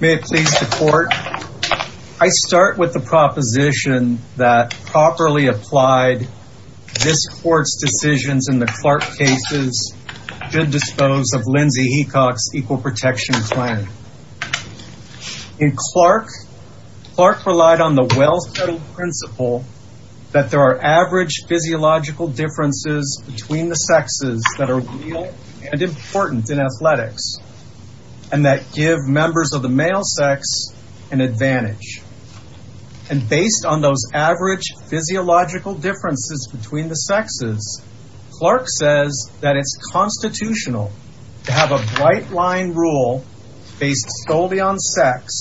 May it please the court. I start with the proposition that properly applied this court's decisions in the Clark cases should dispose of Lindsay Hecox equal protection plan. In Clark, Clark relied on the well-studded principle that there are average physiological differences between the sexes that are real and important in athletics and that give members of the male sex an advantage. And based on those average physiological differences between the sexes, Clark says that it's constitutional to have a bright line rule based solely on sex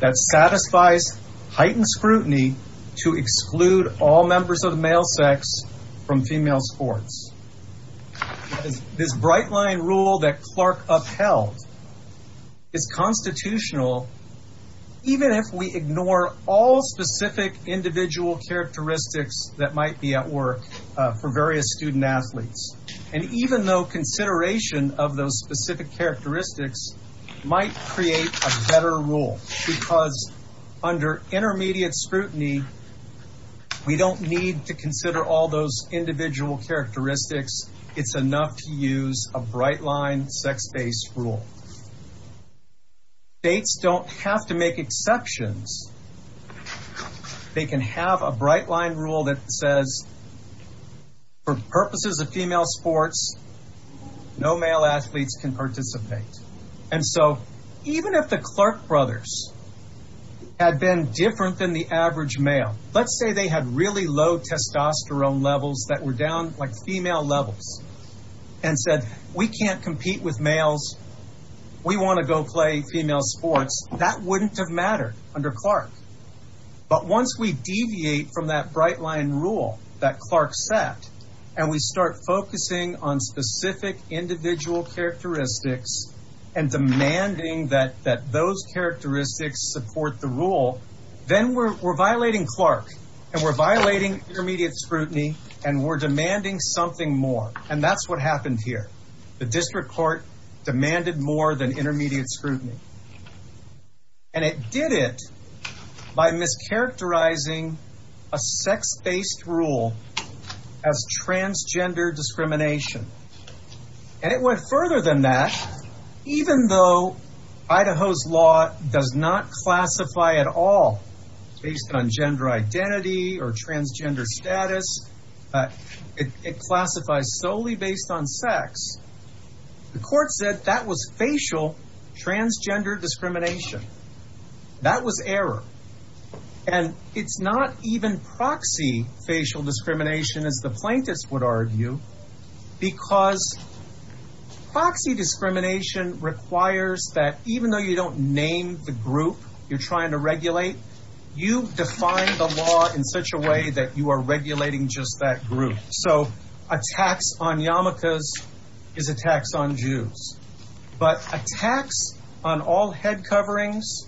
that satisfies heightened scrutiny to exclude all members of the male sex from female sports. This bright line rule that Clark upheld is constitutional even if we ignore all specific individual characteristics that might be at work for various student athletes. And even though consideration of those specific characteristics might create a better rule, because under intermediate scrutiny, we don't need to consider all those individual characteristics. It's enough to use a bright line sex-based rule. States don't have to make exceptions. They can have a bright line rule that says for purposes of female sports, no male athletes can participate. And so even if the Clark brothers had been different than the average male, let's say they had really low testosterone levels that were down like female levels and said, we can't compete with males. We want to go play female sports. That wouldn't have mattered under Clark. But once we deviate from that bright line rule that Clark set, and we start focusing on specific individual characteristics and demanding that those characteristics support the rule, then we're violating Clark, and we're violating intermediate scrutiny, and we're demanding something more. And that's what happened here. The district court demanded more than intermediate scrutiny. And it did it by mischaracterizing a sex-based rule as transgender discrimination. And it went further than that. Even though Idaho's law does not classify at all based on gender identity or transgender status, it classifies solely based on sex. The And it's not even proxy facial discrimination, as the plaintiffs would argue, because proxy discrimination requires that even though you don't name the group you're trying to regulate, you define the law in such a way that you are regulating just that group. So attacks on yarmulkes is attacks on Jews. But attacks on all head coverings,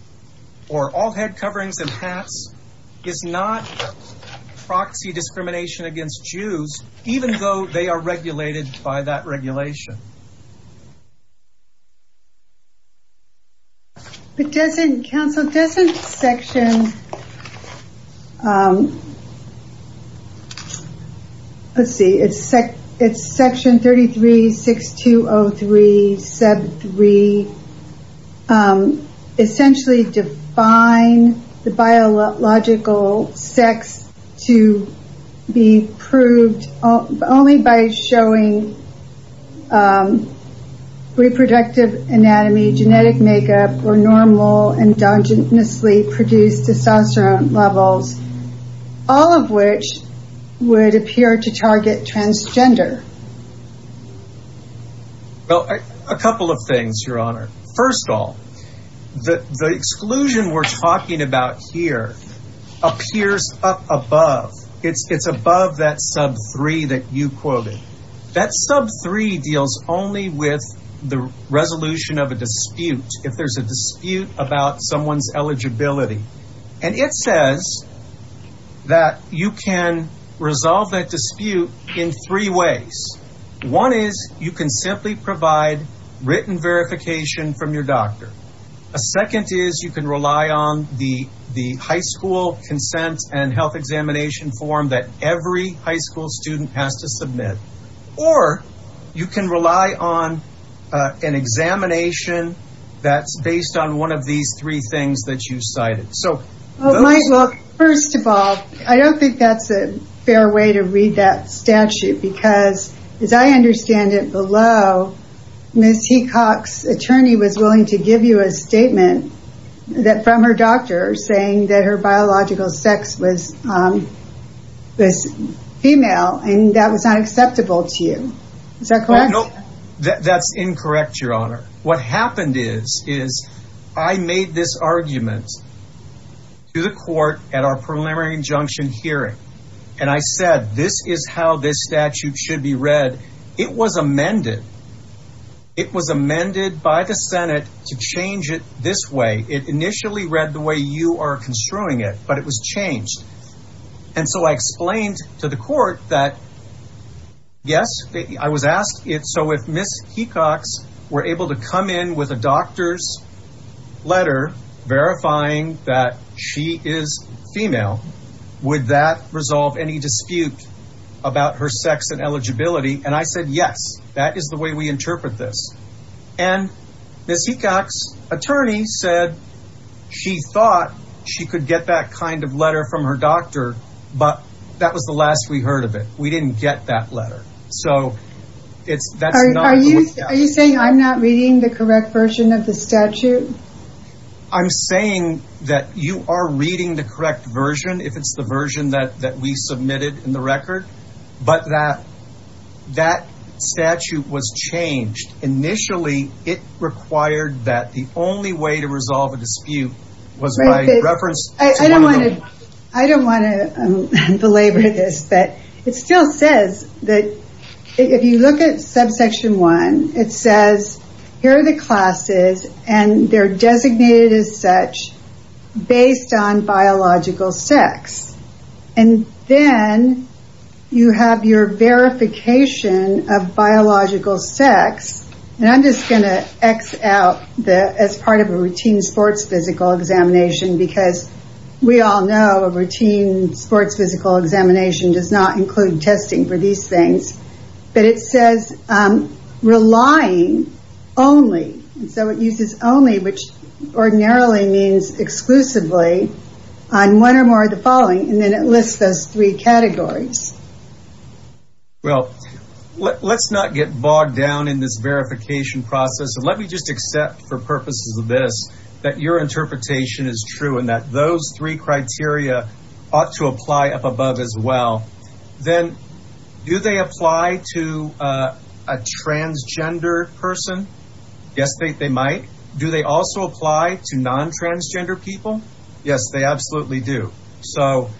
or all head coverings and hats is not proxy discrimination against Jews, even though they are regulated by that regulation. But doesn't, counsel, doesn't section, let's see, it's section 33-6203, sub only by showing reproductive anatomy, genetic makeup, or normal endogenously produced testosterone levels, all of which would appear to target transgender? Well, a couple of things, Your Honor. First of all, the exclusion we're talking about here appears up above. It's above that sub three that you quoted. That sub three deals only with the resolution of a dispute, if there's a dispute about someone's eligibility. And it says that you can resolve that dispute in three ways. One is you can simply provide written verification from your doctor. A second is you can rely on the high school consent and health examination form that every high school student has to submit. Or you can rely on an examination that's based on one of these three things that you cited. So first of all, I don't think that's a fair way to read that statute. Because as I understand it below, Ms. Teacox's attorney was willing to give you a statement from her doctor saying that her biological sex was female, and that was not acceptable to you. Is that correct? No, that's incorrect, Your Honor. What happened is, is I made this argument to the court at our preliminary injunction hearing. And I said, this is how this was read. It was amended. It was amended by the Senate to change it this way. It initially read the way you are construing it, but it was changed. And so I explained to the court that, yes, I was asked it. So if Ms. Teacox were able to come in with a doctor's letter verifying that she is female, would that resolve any dispute about her sex and eligibility? And I said, yes, that is the way we interpret this. And Ms. Teacox's attorney said she thought she could get that kind of letter from her doctor, but that was the last we heard of it. We didn't get that letter. So it's, that's not the way it happened. Are you saying I'm not reading the correct version of the statute? I'm saying that you are reading the correct version, if it's the version that we submitted in the record, but that, that statute was changed. Initially, it required that the only way to resolve a dispute was by reference to women. I don't want to belabor this, but it still says that if you look at subsection one, it says here are the classes and they're designated as such based on biological sex. And then you have your verification of biological sex. And I'm just going to X out the, as part of a routine sports physical examination, because we all know a routine sports physical examination does not include testing for these things, but it says relying only. And so it uses only, which ordinarily means exclusively on one or more of the following. And then it lists those three categories. Well, let's not get bogged down in this verification process. And let me just accept for purposes of this, that your interpretation is true and that those three criteria ought to apply up above as well. Then do they apply to a transgender person? Yes, they might. Do they also apply to non-transgender people? Yes, they absolutely do. So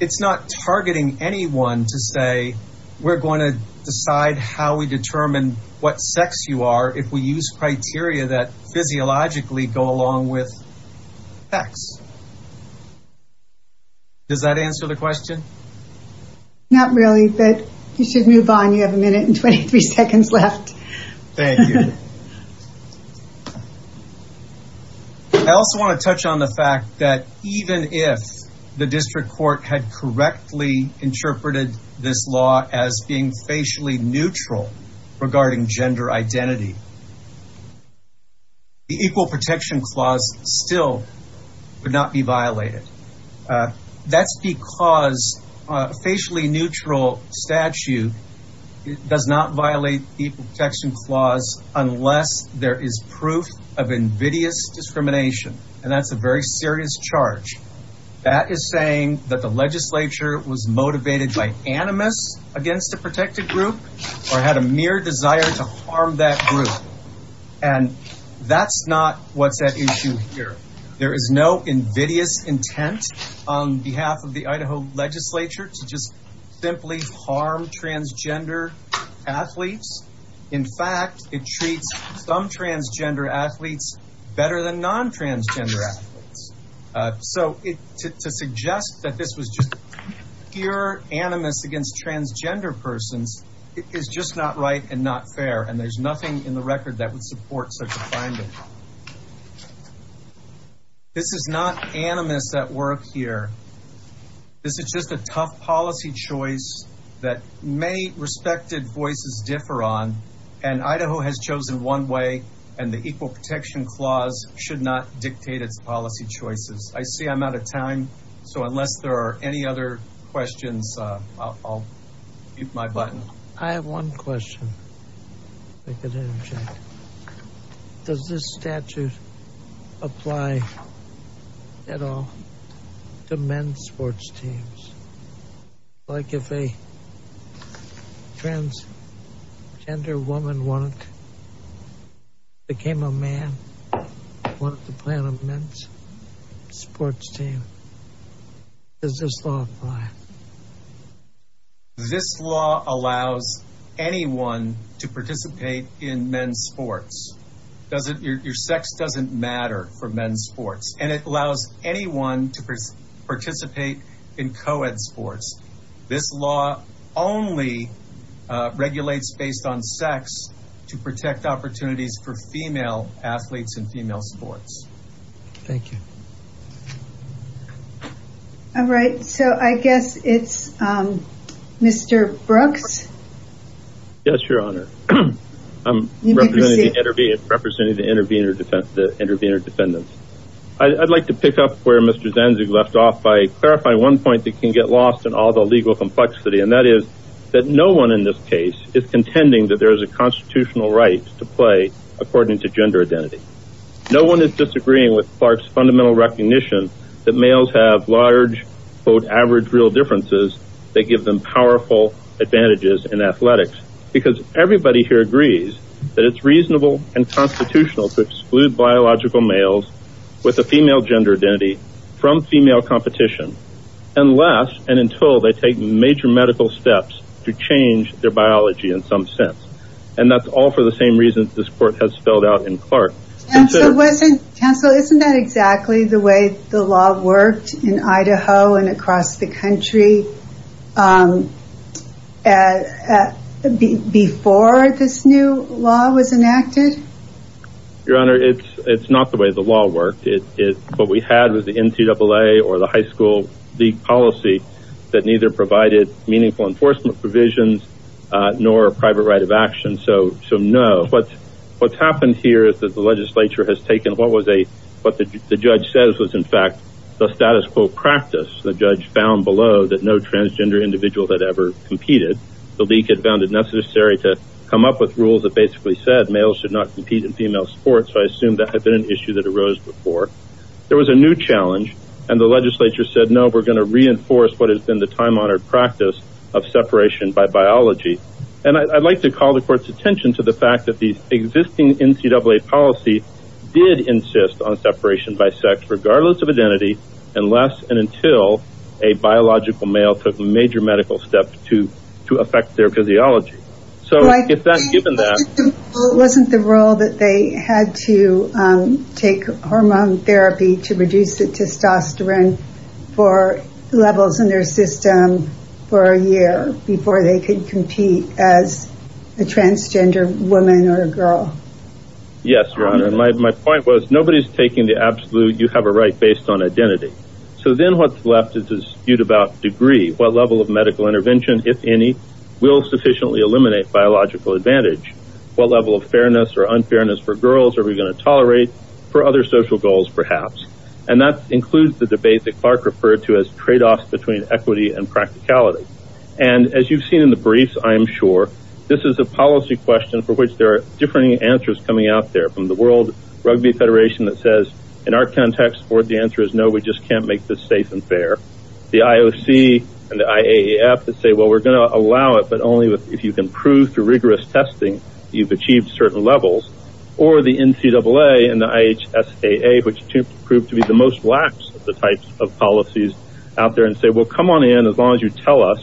it's not targeting anyone to say, we're going to decide how we determine what sex you are if we use criteria that Does that answer the question? Not really, but you should move on. You have a minute and 23 seconds left. Thank you. I also want to touch on the fact that even if the district court had correctly interpreted this law as being facially neutral regarding gender identity, the Equal Protection Clause still would not be violated. That's because a facially neutral statute does not violate the Equal Protection Clause unless there is proof of invidious discrimination. And that's a very serious charge. That is saying that the legislature was motivated by animus against a protected group or had a mere desire to harm that group. And that's not what's at issue here. There is no invidious intent on behalf of the Idaho legislature to just simply harm transgender athletes. In fact, it treats some transgender athletes better than non-transgender athletes. So to suggest that this was just pure animus against transgender persons is just not right and not fair. And there's nothing in the record that would support such a finding. This is not animus at work here. This is just a tough policy choice that many respected voices differ on. And Idaho has chosen one way, and the Equal Protection Clause should not dictate its policy choices. I see I'm out of time. So unless there are any other questions, I'll keep my button. I have one question. Does this statute apply at all to men's sports teams? Like if a transgender woman wanted, became a man, wanted to play on a men's sports team, does this law apply? This law allows anyone to participate in men's sports. Your sex doesn't matter for men's sports, and it allows anyone to participate in co-ed sports. This law only regulates based on sex to protect opportunities for female athletes in female sports. Thank you. All right. So I guess it's Mr. Brooks. Yes, Your Honor. I'm representing the intervener defendants. I'd like to pick up where Mr. Zanzig left off by clarifying one point that can get lost in all the legal complexity, and that is that no one in this case is contending that there is a constitutional right to play according to gender identity. No one is disagreeing with Clark's fundamental recognition that males have large, quote, average real differences that give them powerful advantages in athletics, because everybody here agrees that it's reasonable and constitutional to exclude biological males with a female gender identity from female competition unless and until they take major medical steps to change their biology in some sense. And that's all for the same reasons this court has spelled out in Clark. Counsel, isn't that exactly the way the law worked in Idaho and across the country before this new law was enacted? Your Honor, it's not the way the law worked. What we had was the NCAA or the high school league policy that neither provided meaningful enforcement provisions nor a private right of action. So no. What's happened here is that the legislature has taken what the judge says was, in fact, the status quo practice. The judge found below that no transgender individuals had ever competed. The league had found it necessary to come up with rules that basically said males should not compete in female sports. I assume that had been an issue that arose before. There was a new challenge and the legislature said, no, we're going to reinforce what has been the time honored practice of separation by biology. And I'd like to call the court's attention to the fact that the existing NCAA policy did insist on separation by sex regardless of identity unless and until a biological male took a major medical step to affect their physiology. So given that... Wasn't the rule that they had to take hormone therapy to reduce the testosterone for levels in their system for a year before they could compete as a transgender woman or girl? Yes, Your Honor. My point was nobody's taking the absolute, you have a right based on identity. So then what's left is a dispute about degree, what level of degree would eliminate biological advantage? What level of fairness or unfairness for girls are we going to tolerate for other social goals, perhaps? And that includes the debate that Clark referred to as trade-offs between equity and practicality. And as you've seen in the briefs, I'm sure this is a policy question for which there are different answers coming out there from the World Rugby Federation that says, in our context, the answer is no, we just can't make this safe and fair. The IOC and the IAEF that say, well, we're going to prove through rigorous testing, you've achieved certain levels. Or the NCAA and the IHSAA, which proved to be the most lax of the types of policies out there and say, well, come on in as long as you tell us,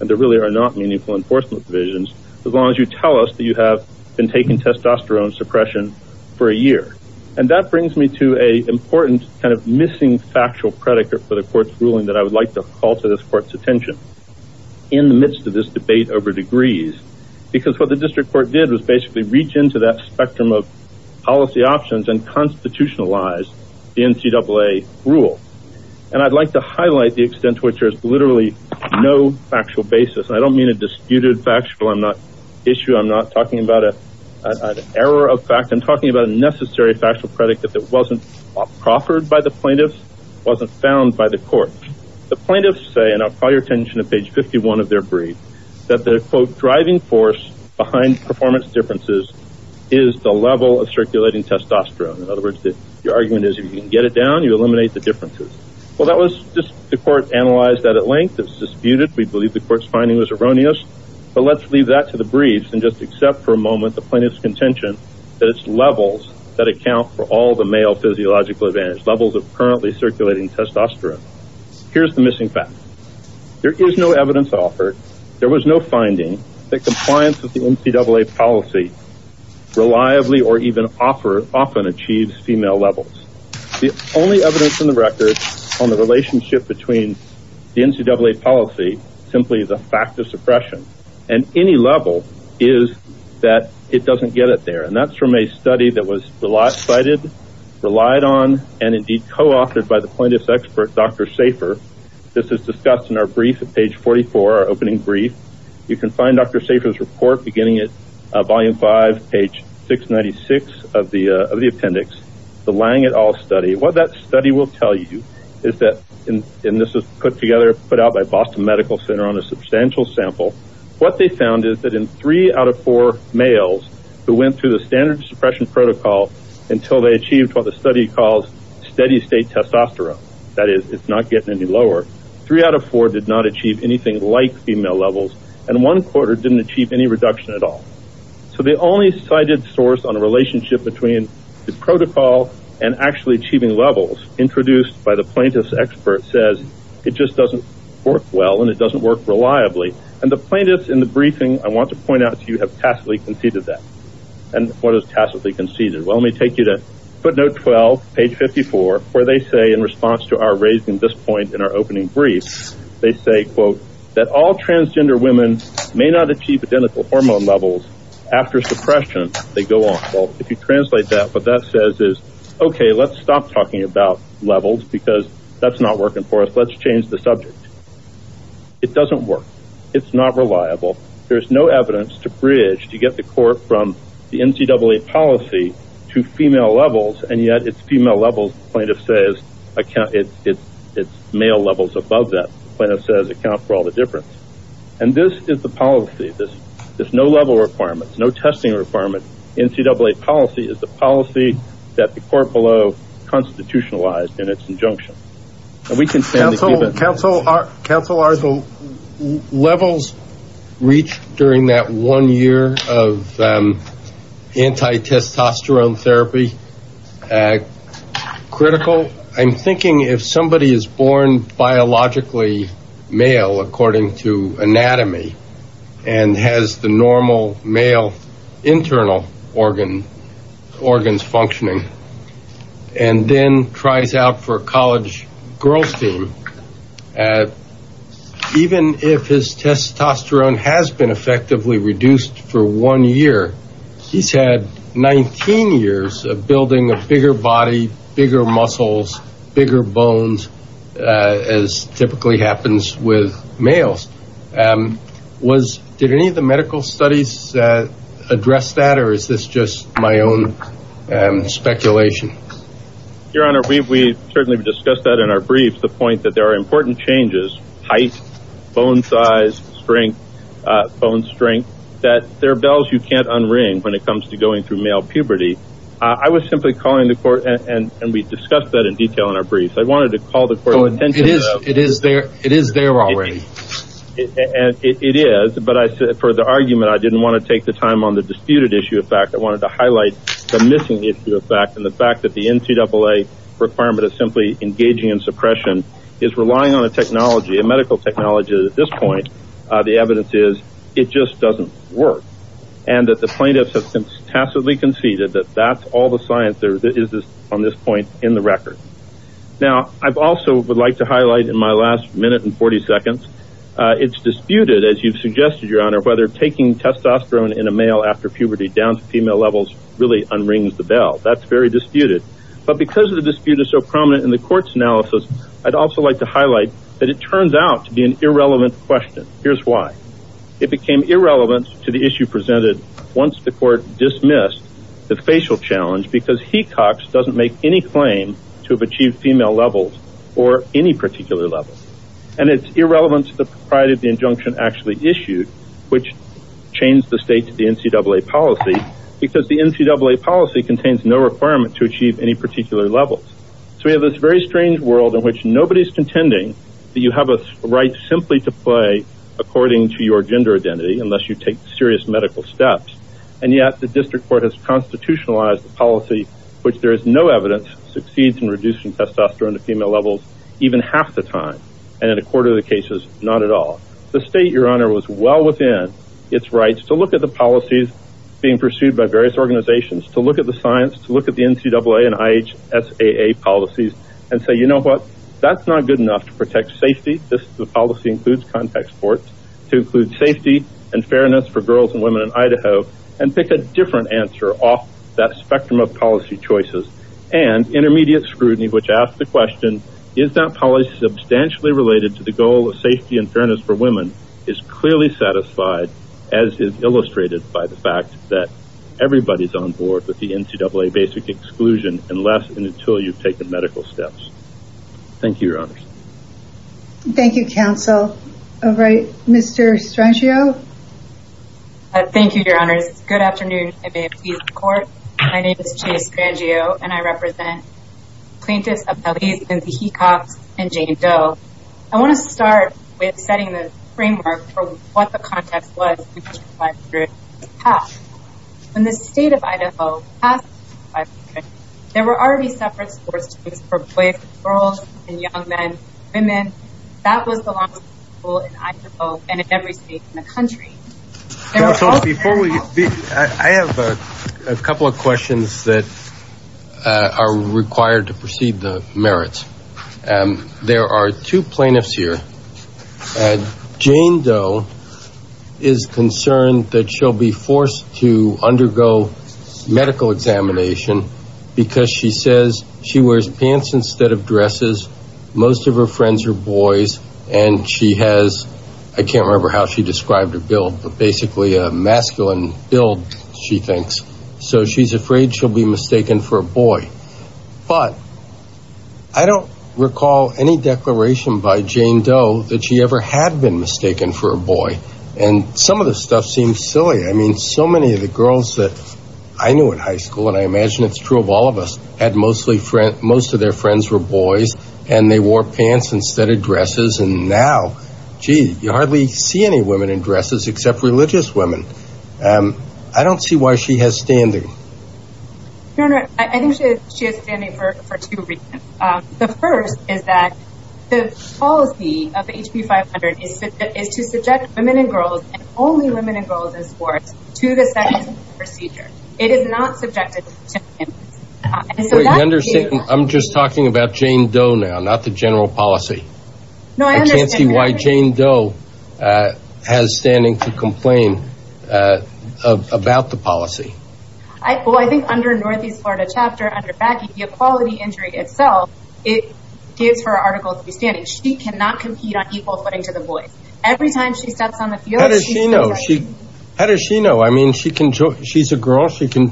and there really are not meaningful enforcement divisions, as long as you tell us that you have been taking testosterone suppression for a year. And that brings me to a important kind of missing factual predicate for the court's ruling that I would like to to this court's attention in the midst of this debate over degrees, because what the district court did was basically reach into that spectrum of policy options and constitutionalize the NCAA rule. And I'd like to highlight the extent to which there's literally no factual basis. I don't mean a disputed factual issue. I'm not talking about an error of fact. I'm talking about a necessary factual predicate that wasn't proffered by the plaintiffs, wasn't found by the court. The plaintiffs say, and I'll call your attention to page 51 of their brief, that the quote, driving force behind performance differences is the level of circulating testosterone. In other words, the argument is you can get it down, you eliminate the differences. Well, that was just the court analyzed that at length. It's disputed. We believe the court's finding was erroneous. But let's leave that to the briefs and just accept for a moment the plaintiff's contention that it's levels that account for all the male physiological advantage, levels of currently circulating testosterone. Here's the missing facts. There is no evidence offered. There was no finding that compliance with the NCAA policy reliably or even often achieves female levels. The only evidence in the record on the relationship between the NCAA policy, simply the fact of suppression, and any level is that it doesn't get it there. And that's from a study that was cited, relied on, and indeed co-authored by the plaintiff's expert, Dr. Safer. This is discussed in our brief at page 44, our opening brief. You can find Dr. Safer's report beginning at volume 5, page 696 of the appendix, the Lang et al study. What that study will tell you is that, and this is put together, put out by Boston Medical Center on a substantial sample, what they found is that in three out of four males who went through the standard suppression protocol until they achieved what the study calls steady state testosterone, that is, it's not getting any lower, three out of four did not achieve anything like female levels, and one quarter didn't achieve any reduction at all. So the only cited source on a relationship between the protocol and actually achieving levels introduced by the plaintiff's expert says it just doesn't work well and it doesn't work reliably. And the plaintiffs in the briefing, I want to point out to you, have tacitly conceded that. And what is tacitly conceded? Well, let me take you to footnote 12, page 54, where they say in response to our raising this point in our opening brief, they say, quote, that all transgender women may not achieve identical hormone levels after suppression. They go on. Well, if you translate that, what that says is, okay, let's stop talking about levels because that's not working for us. Let's change the subject. It doesn't work. It's not reliable. There's no evidence to bridge, to get the court from the NCAA policy to female levels. And yet it's female levels, plaintiff says, account, it's male levels above that, plaintiff says, account for all the difference. And this is the policy, this is no level requirements, no testing requirement. NCAA policy is the policy that the court below constitutionalized in its injunction. We can counsel, counsel, counsel, our levels reach during that one year of anti testosterone therapy. Critical, I'm thinking if somebody is born biologically male, according to anatomy, and has the normal male internal organ, organs functioning, and then tries out for college girls team, even if his testosterone has been effectively reduced for one year, he's had 19 years of building a bigger body, bigger muscles, bigger bones, as typically happens with males. Was, did any of the medical studies address that? Or is this just my own speculation? Your Honor, we've, we've certainly discussed that in our briefs, the point that there are important changes, height, bone size, strength, bone strength, that there are bells you can't unring when it comes to going through male puberty. I was simply calling the court and, and we discussed that in detail in our briefs. I wanted to call the court's attention to that. It is there, it is there already. And it is, but I said for the argument, I didn't want to take the time on the disputed issue of fact, I wanted to highlight the missing issue of fact and the fact that the NCAA requirement of simply engaging in suppression is relying on a technology, a medical technology that at this point, the evidence is it just doesn't work. And that the plaintiffs have tacitly conceded that that's all the science there is on this point in the record. Now, I've also would like to highlight in my last minute and 40 seconds, it's disputed as you've suggested, Your Honor, whether taking testosterone in a male after puberty down to female levels really unrings the bell. That's very disputed, but because of the dispute is so prominent in the court's analysis. I'd also like to highlight that it turns out to be an irrelevant question. Here's why it became irrelevant to the issue presented once the court dismissed the facial challenge, because he Cox doesn't make any claim to have achieved female levels or any particular level. And it's irrelevant to the pride of the injunction actually issued, which changed the state to the NCAA policy because the NCAA policy contains no requirement to achieve any particular levels. So we have this very strange world in which nobody's contending that you have a right simply to play according to your gender identity, unless you take serious medical steps. And yet the district court has constitutionalized the policy, which there is no evidence succeeds in reducing testosterone to female levels even half the time. And in a quarter of the cases, not at all. The state, Your Honor, was well within its rights to look at the policies being looked at the NCAA and IH SAA policies and say, you know what, that's not good enough to protect safety. This is the policy includes contact sports to include safety and fairness for girls and women in Idaho and pick a different answer off that spectrum of policy choices and intermediate scrutiny, which asks the question, is that policy substantially related to the goal of safety and fairness for women is clearly satisfied, as is illustrated by the Everybody's on board with the NCAA basic exclusion, unless and until you've taken medical steps. Thank you, Your Honor. Thank you, counsel. All right, Mr. Strangio. Thank you, Your Honors. Good afternoon. My name is Chase Strangio, and I represent plaintiffs Appellees Lindsey Hecox and Jane Doe. I want to start with setting the framework for what the context was. In the state of Idaho, there were already separate sports teams for boys, girls, and young men, women. That was the law in Idaho and in every state in the country. I have a couple of questions that are required to proceed the merits. There are two plaintiffs here. Jane Doe is concerned that she'll be forced to undergo medical examination because she says she wears pants instead of dresses. Most of her friends are boys, and she has, I can't remember how she described her build, but basically a masculine build, she thinks. So she's afraid she'll be mistaken for a boy. But I don't recall any declaration by Jane Doe that she ever had been mistaken for a boy. And some of the stuff seems silly. I mean, so many of the girls that I knew in high school, and I imagine it's true of all of us, had mostly, most of their friends were boys, and they wore pants instead of dresses. And now, gee, you hardly see any women in general. I think she is standing for two reasons. The first is that the policy of HB 500 is to subject women and girls, and only women and girls in sports, to the second procedure. It is not subjected to him. I'm just talking about Jane Doe now, not the general policy. I can't see why Jane Doe has standing to complain about the policy. Well, I think under a Northeast Florida chapter, under Baggy, the equality injury itself, it gives her article of understanding. She cannot compete on equal footing to the boys. Every time she steps on the field, she's subject. How does she know? How does she know? I mean, she's a girl. She can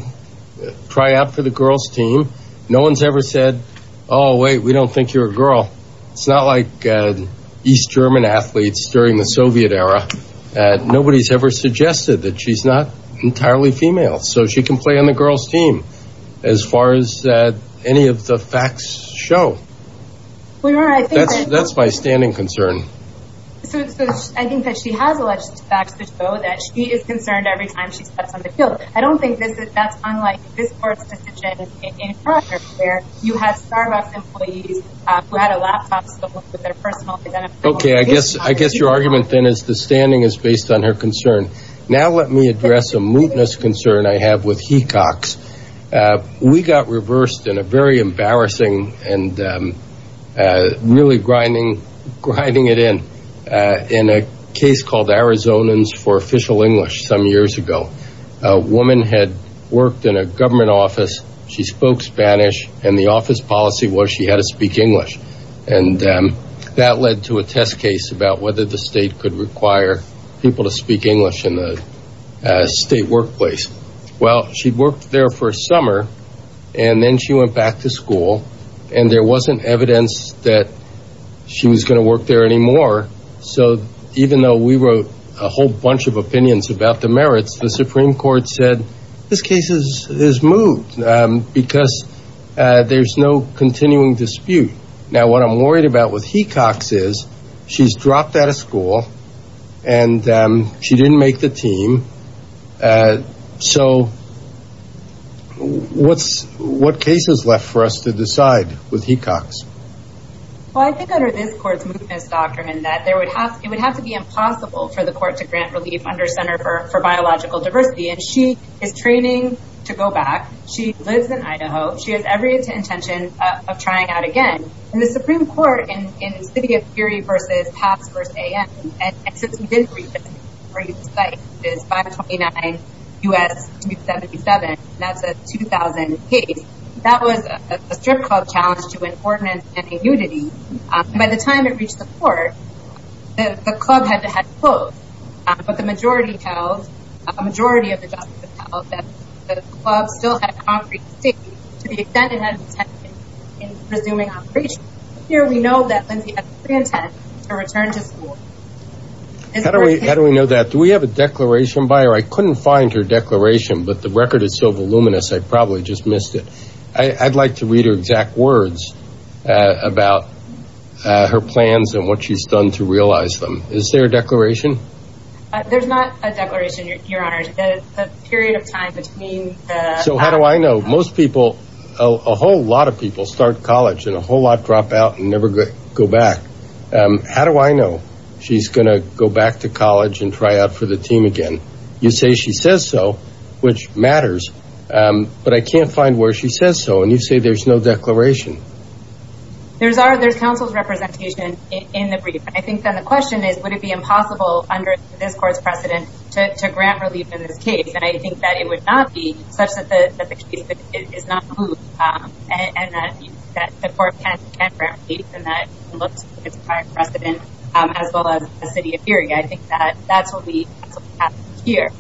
try out for the girls team. No one's ever said, oh, wait, we don't think you're a girl. It's not like East German athletes during the Soviet era. Nobody's ever suggested that she's not entirely female. So she can play on the girls team, as far as any of the facts show. That's my standing concern. So I think that she has alleged facts that show that she is concerned every time she steps on the field. I don't think that's unlike this court's opinion. Okay, I guess your argument then is the standing is based on her concern. Now let me address a mootness concern I have with Hecox. We got reversed in a very embarrassing and really grinding it in, in a case called Arizonans for Official English some years ago. A woman had worked in a government office, she spoke Spanish, and the office policy was she had to speak English. And that led to a test case about whether the state could require people to speak English in the state workplace. Well, she'd worked there for a summer, and then she went back to school, and there wasn't evidence that she was going to work there anymore. So even though we wrote a whole bunch of opinions about the merits, the Supreme Court said this case is moot because there's no continuing dispute. Now what I'm worried about with Hecox is she's dropped out of school, and she didn't make the team. So what's, what case is left for us to decide with Hecox? Well, I think under this court's mootness doctrine that there would have, it would have to be impossible for the court to grant relief under Center for Biological Diversity. And she is training to go back. She lives in Idaho. She has every intention of trying out again. And the Supreme Court in City of Fury v. Paths v. A.M., and since we did read the site, it is 529 U.S. 277, and that's a 2000 case. That was a strip club challenge to importance and immunity. By the time it reached the court, the club had closed. But the majority held, a majority of the judges held that the club still had concrete distinction to the extent it had intention in resuming operation. Here we know that Lindsay has a pre-intent to return to school. How do we know that? Do we have a declaration by her? I couldn't find her declaration, but the record is so voluminous I probably just missed it. I'd like to read her exact words about her plans and what she's done to realize them. Is there a declaration? There's not a declaration, Your Honor. There's a period of time between the... So how do I know? Most people, a whole lot of people start college and a whole lot drop out and never go back. How do I know she's gonna go back to college and try out for the team again? You say she says so, which matters, but I can't find where she says so, and you say there's no declaration. There's counsel's representation in the brief. I think that the question is, would it be impossible under this court's precedent to grant relief in this case? And I think that it would not be such that the case is not moved and that the court can't grant relief and that it's prior precedent as well as the city of Erie. I think that's what we have here.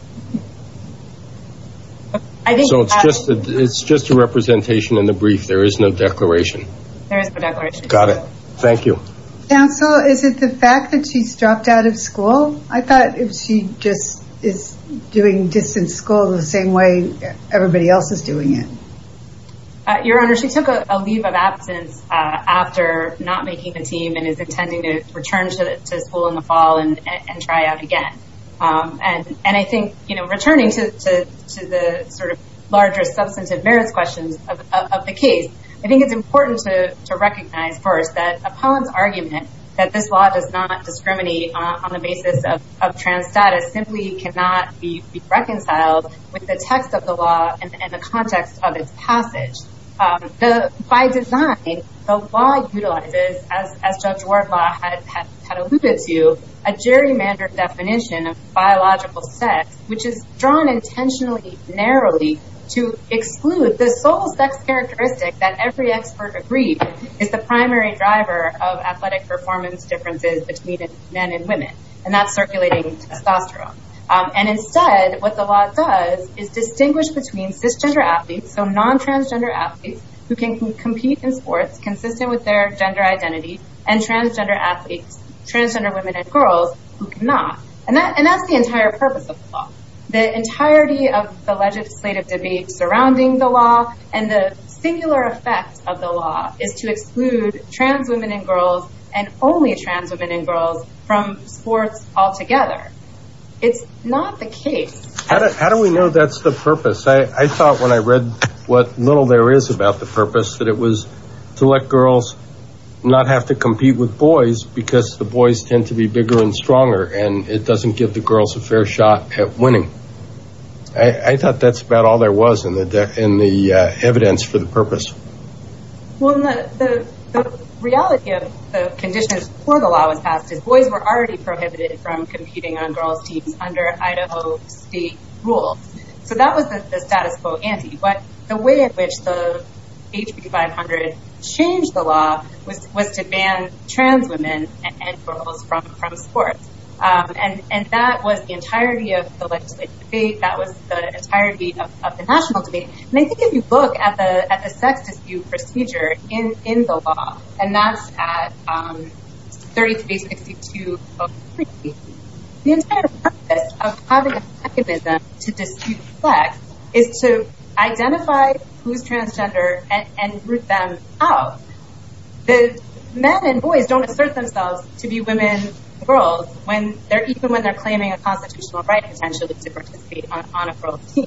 So it's just a representation in the brief? There is no declaration? There is no declaration. Got it. Thank you. Counsel, is it the fact that she's dropped out of school? I thought if she just is doing distance school the same way everybody else is doing it. Your Honor, she took a leave of absence after not making the team and is intending to return to school in the fall and try out again. And I think, you know, returning to the sort of larger substantive merits questions of the case, I think it's important to recognize first that Apollon's argument that this law does not discriminate on the basis of trans status simply cannot be reconciled with the text of the law and the context of its passage. By design, the law utilizes, as Judge Wardlaw had alluded to, a gerrymandered definition of biological sex, which is drawn intentionally narrowly to exclude the sole sex characteristic that every expert agreed is the primary driver of athletic performance differences between men and women, and that's circulating testosterone. And instead, what the law does is distinguish between cisgender athletes, so non-transgender athletes, who can compete in sports consistent with their gender identity, and transgender athletes, transgender women and girls, who cannot. And that's the entire purpose of the law, the singular effect of the law is to exclude trans women and girls and only trans women and girls from sports altogether. It's not the case. How do we know that's the purpose? I thought when I read what little there is about the purpose that it was to let girls not have to compete with boys because the boys tend to be bigger and stronger and it doesn't give the girls a fair shot at winning. I thought that's about all there was in the evidence for the purpose. Well, the reality of the conditions before the law was passed is boys were already prohibited from competing on girls' teams under Idaho state rules. So that was the status quo ante, but the way in which the HB 500 changed the law was to ban trans women and girls from sports. And that was the entirety of the legislative debate. That was the entirety of the national debate. And I think if you look at the sex dispute procedure in the law, and that's at 3362-03, the entire purpose of having a mechanism to dispute sex is to identify who's transgender and root them out. The men and boys don't assert themselves to be women and girls even when they're claiming a constitutional right potentially to participate on a girl's team.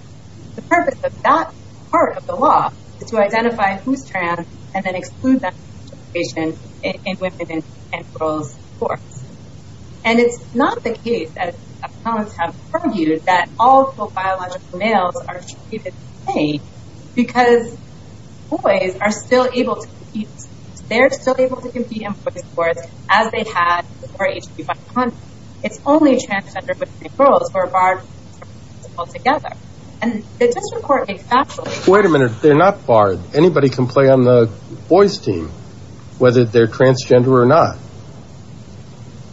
The purpose of that part of the law is to identify who's trans and then exclude them from participation in women's and girls' sports. And it's not the case, as economists have argued, that all biological males are treated the same because boys are still able to compete. They're still able to compete in boys' sports as they had before HB 500. It's only transgender women and girls who are barred from participating altogether. And the district court made factual... Wait a minute, they're not barred. Anybody can play on the boys' team whether they're transgender or not.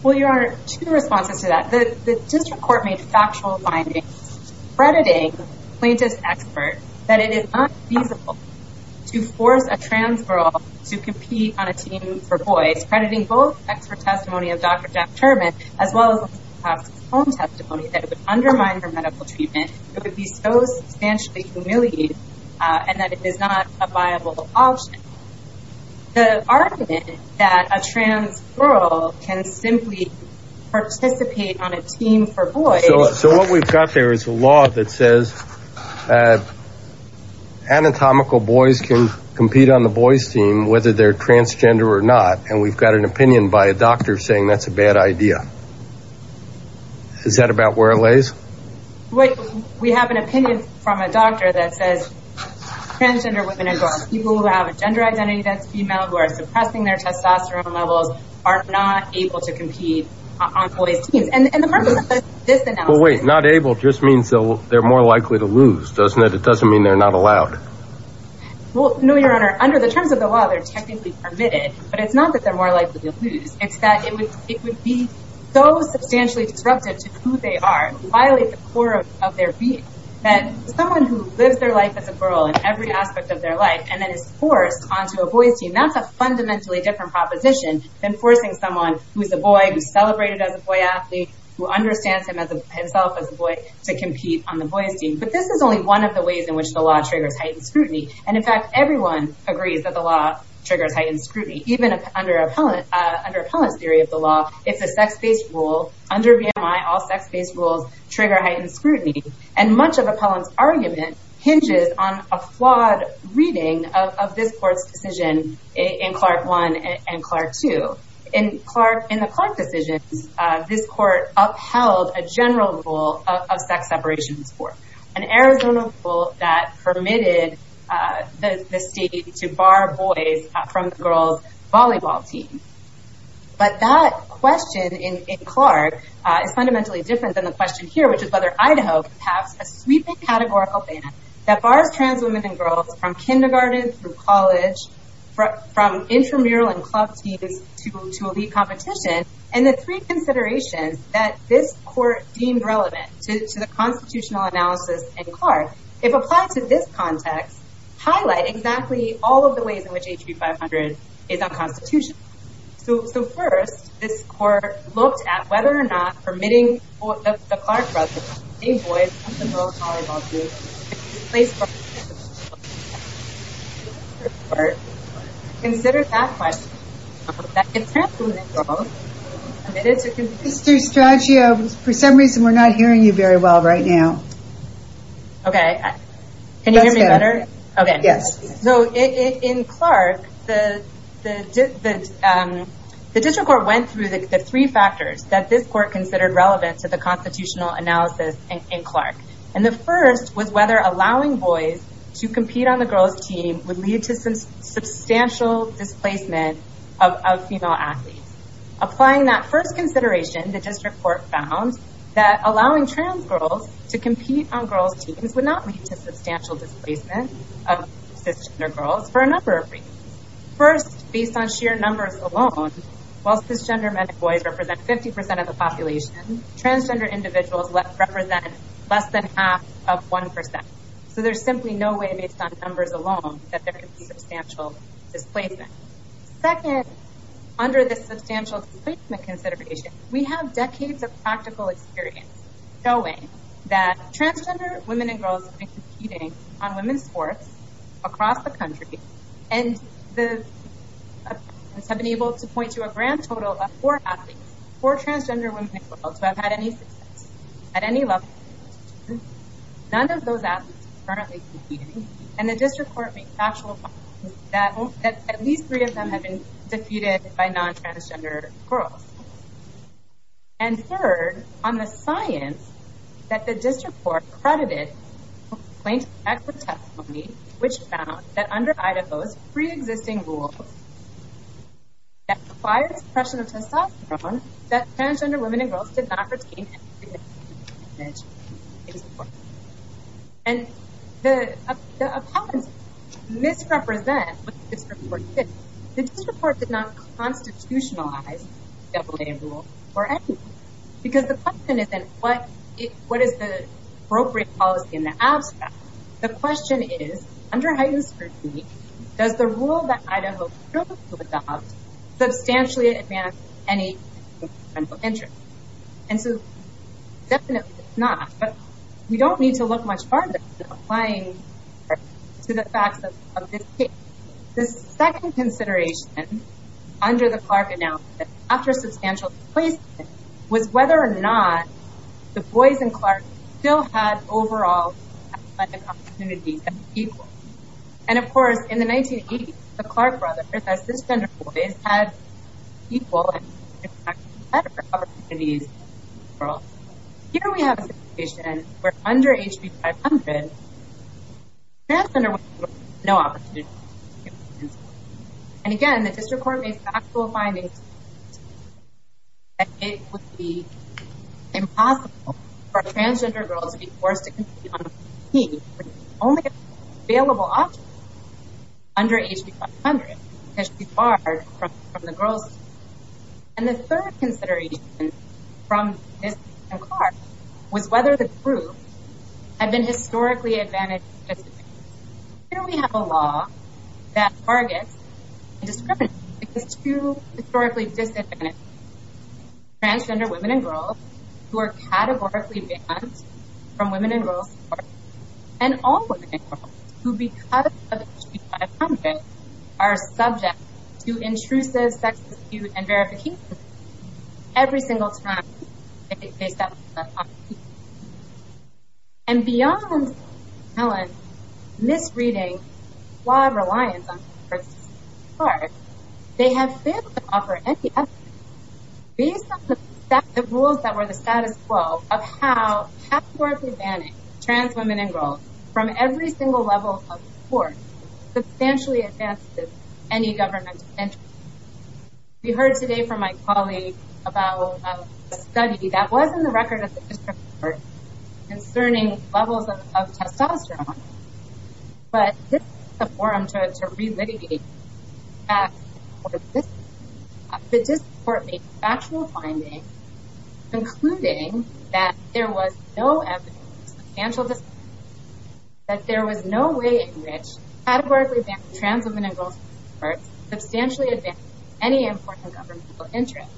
Well, Your Honor, two responses to that. The district court made factual findings crediting plaintiff's expert that it is not feasible to force a trans girl to compete on a team for boys, crediting both expert testimony of Dr. Jack Turbin as well as home testimony that would undermine her medical treatment. It would be so substantially humiliating and that it is not a viable option. The argument that a trans girl can simply participate on a boys' team, there's a law that says anatomical boys can compete on the boys' team whether they're transgender or not. And we've got an opinion by a doctor saying that's a bad idea. Is that about where it lays? We have an opinion from a doctor that says transgender women and girls, people who have a gender identity that's female, who are suppressing their testosterone levels, are not able to compete on boys' teams. And the purpose of this analysis... Not able just means they're more likely to lose, doesn't it? It doesn't mean they're not allowed. Well, no, Your Honor. Under the terms of the law, they're technically permitted, but it's not that they're more likely to lose. It's that it would be so substantially disruptive to who they are, violate the core of their being, that someone who lives their life as a girl in every aspect of their life and then is forced onto a boys' team, that's a fundamentally different proposition than forcing someone who's a boy, who's celebrated as a boy athlete, who understands himself as a boy, to compete on the boys' team. But this is only one of the ways in which the law triggers heightened scrutiny. And in fact, everyone agrees that the law triggers heightened scrutiny. Even under Appellant's theory of the law, it's a sex-based rule. Under VMI, all sex-based rules trigger heightened scrutiny. And much of Appellant's argument hinges on a flawed reading of this court's decision in Clark I and Clark II. In the Clark decisions, this court upheld a general rule of sex separation in sport, an Arizona rule that permitted the state to bar boys from the girls' volleyball team. But that question in Clark is fundamentally different than the question here, which is whether Idaho passed a sweeping categorical ban that bars trans women and college from intramural and club teams to elite competition. And the three considerations that this court deemed relevant to the constitutional analysis in Clark, if applied to this context, highlight exactly all of the ways in which HB 500 is unconstitutional. So first, this court looked at whether or not permitting the Clark brothers to stay boys from the girls' volleyball team, if it's in place for the district court to consider that question. Mr. Stradgeo, for some reason, we're not hearing you very well right now. Okay. Can you hear me better? Yes. So in Clark, the district court went through the three factors that this court considered relevant to the constitutional analysis in Clark. And the first was whether allowing boys to compete on the girls' team would lead to substantial displacement of female athletes. Applying that first consideration, the district court found that allowing trans girls to compete on girls' teams would not lead to substantial displacement of cisgender girls for a number of reasons. First, based on sheer numbers alone, while cisgender men and boys represent 50 percent of the population, transgender individuals represent less than half of one percent. So there's simply no way, based on numbers alone, that there could be substantial displacement. Second, under the substantial displacement consideration, we have decades of practical experience showing that transgender women and girls have been competing on women's sports across the country, and the participants have been able to point to a grand total of four athletes, four transgender women and girls, who have had any success at any level. None of those athletes are currently competing, and the district court made factual points that at least three of them have been defeated by non-transgender girls. And third, on the science that the district court credited plaintiffs' acts of testimony, which found that under Idaho's pre-existing rules that required suppression of testosterone, that transgender women and girls did not retain any constitutionalized double-A rules or anything. Because the question isn't what is the appropriate policy in the abstract. The question is, under heightened scrutiny, does the rule that Idaho substantially advance any interest? And so definitely it's not, but we don't need to under the Clark announcement, after substantial displacement, was whether or not the boys in Clark still had overall opportunities. And of course, in the 1980s, the Clark brothers, as cisgender boys, had equal and better opportunities. Here we have a situation where under HB 500, transgender women and girls had no opportunity. And again, the district court made factual findings that it would be impossible for a transgender girl to be forced to compete on a team with only available options under HB 500, because she's barred from the girls' team. And the third consideration from this Clark was whether the group had been historically advantaged. Here we have a law that targets and discriminates against two historically disadvantaged transgender women and girls who are categorically banned from women and girls' courts, and all women and girls who, because of HB 500, are subject to intrusive sex dispute and verification every single time they step into the court. And beyond Helen misreading the law of reliance on transgender persons in Clark, they have failed to offer any evidence based on the rules that were the status quo of how categorically banning trans women and girls from every single level of the court substantially advances any governmental interest. We heard today from my colleague about a study that was in the record of the district court concerning levels of testosterone, but this is a forum to relitigate the fact that the district court made factual findings, concluding that there was no evidence of substantial discrimination, that there was no way in which categorically banned trans women and girls from courts substantially advances any important governmental interest.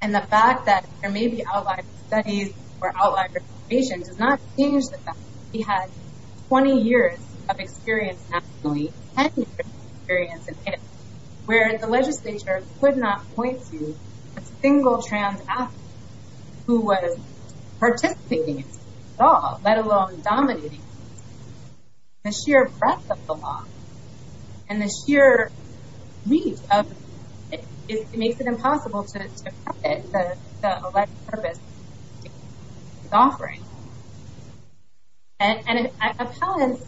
And the fact that there may be outlier studies or outlier information does not change the fact that we had 20 years of experience nationally, 10 years of experience in Canada, where the legislature could not point to a single trans athlete who was participating at all, let alone dominating the sheer breadth of the law and the sheer reach of it. It makes it impossible to accept it, the alleged purpose it's offering. And if appellants,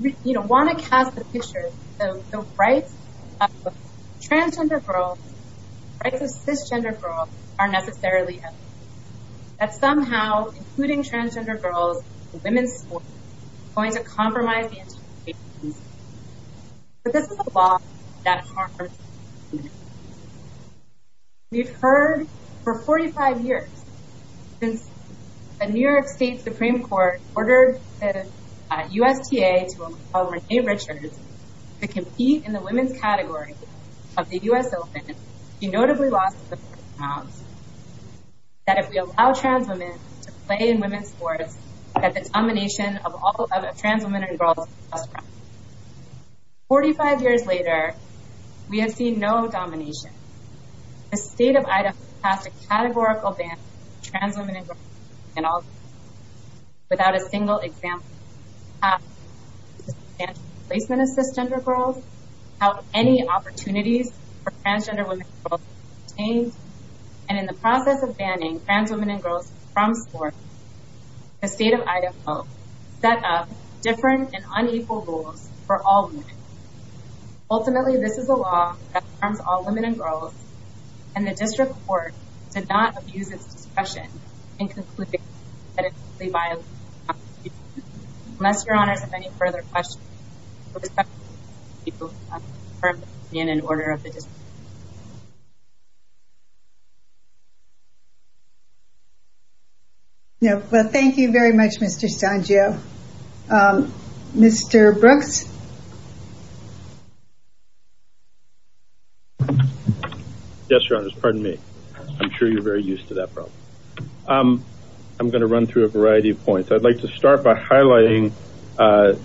you know, want to cast the picture, the rights of transgender girls, rights of cisgender girls are necessarily evident, that somehow including transgender girls in women's sports is going to compromise the interpretation. But this is a law that we've heard for 45 years, since the New York State Supreme Court ordered the USTA to Renee Richards to compete in the women's category of the US Open. She notably lost grounds that if we allow trans women to play in women's sports, that the domination of all trans women and girls. 45 years later, we have seen no domination. The state of Idaho passed a categorical ban on trans women and girls without a single example. Placement of cisgender girls, how any opportunities for transgender women, and in the process of banning trans women and girls from sports, the state of Idaho set up different and unequal rules for all women. Ultimately, this is a law that harms all women and girls, and the district court did not abuse its discretion in concluding that it would be violent. Unless your honors have any further questions. No, well, thank you very much, Mr. Sangio. Mr. Brooks. Yes, your honors, pardon me. I'm sure you're very used to that problem. I'm going to run through a variety of points. I'd like to start by highlighting the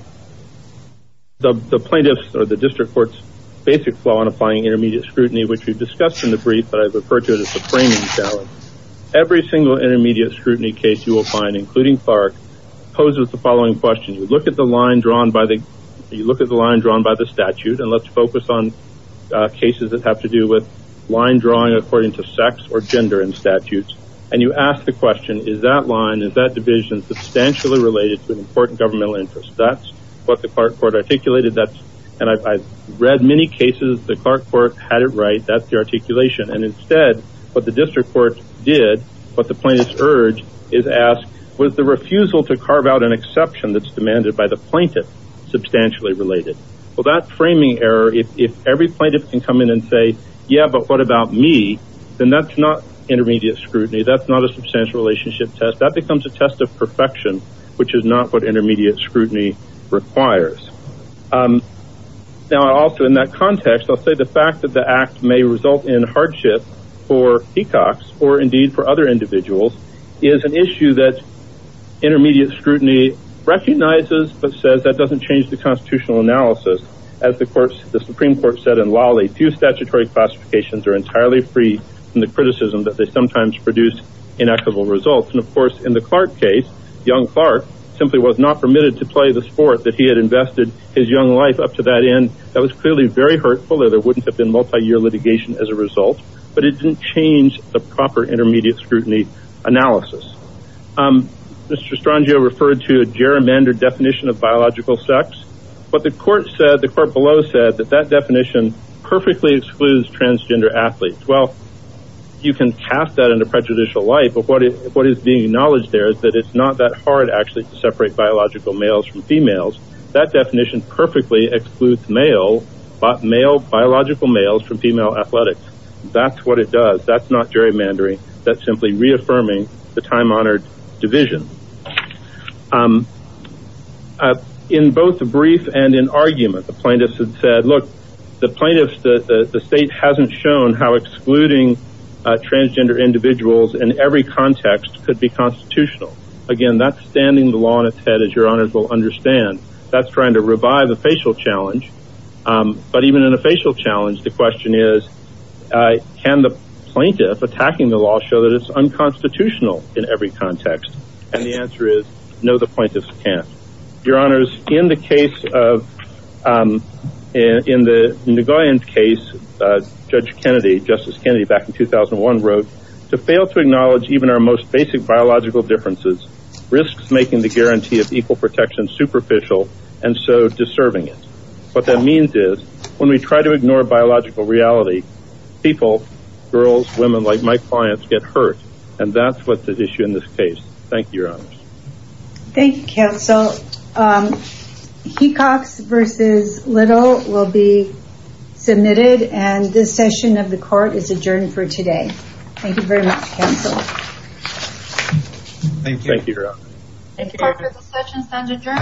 plaintiff's or the district court's basic flaw in applying intermediate scrutiny, which we've discussed in the brief, but I've referred to it as the framing challenge. Every single intermediate scrutiny case you will find, including FARC, poses the following question. You look at the line drawn by the statute, and let's focus on cases that have to do with line drawing according to sex or gender in statutes, and you ask the question, is that line, is that division substantially related to an important governmental interest? That's what the Clark court articulated, and I've read many cases, the Clark court had it right, that's the articulation, and instead, what the district court did, what the plaintiff's urge is ask, was the refusal to carve out an exception that's demanded by the plaintiff substantially related. Well, that framing error, if every plaintiff can come in and say, yeah, but what about me? Then that's not intermediate scrutiny. That's not a substantial relationship test. That becomes a test of perfection, which is not what intermediate scrutiny requires. Now, also in that context, I'll say the fact that the act may result in hardship for peacocks, or indeed for other individuals, is an issue that intermediate scrutiny recognizes, but says that doesn't change the constitutional analysis. As the Supreme Court said in Lawley, few statutory classifications are entirely free from the criticism that they sometimes produce inequitable results. And of course, in the Clark case, young Clark simply was not permitted to play the sport that he had invested his young life up to that end. That was clearly very hurtful, there wouldn't have been multi-year litigation as a result, but it didn't change the proper intermediate scrutiny analysis. Mr. Strangio referred to a gerrymandered definition of biological sex, but the court below said that that definition perfectly excludes transgender athletes. Well, you can cast that in a prejudicial light, but what is being acknowledged there is that it's not that hard actually to separate biological males from females. That definition perfectly excludes biological males from female athletics. That's what it does, that's not gerrymandering, that's simply reaffirming the time-honored division. In both the brief and in argument, the plaintiffs had said, look, the plaintiffs, the state hasn't shown how excluding transgender individuals in every context could be constitutional. Again, that's standing the law in its head, as your honors will understand. That's trying to revive the facial challenge. But even in a facial challenge, the question is, can the plaintiff attacking the law show that it's unconstitutional in every context? And the answer is, no, the plaintiffs can't. Your honors, in the case of, in the Nagoyan case, Judge Kennedy, Justice Kennedy back in 2001 wrote, to fail to acknowledge even our most basic biological differences, risks making the guarantee of equal protection superficial and so deserving it. What that means is, when we try to ignore biological reality, people, girls, women like my clients get hurt, and that's what the issue in this case. Thank you, your honors. Thank you, counsel. Um, Hecox versus Little will be submitted, and this session of the court is adjourned for today. Thank you very much, counsel. Thank you. Thank you, your honor.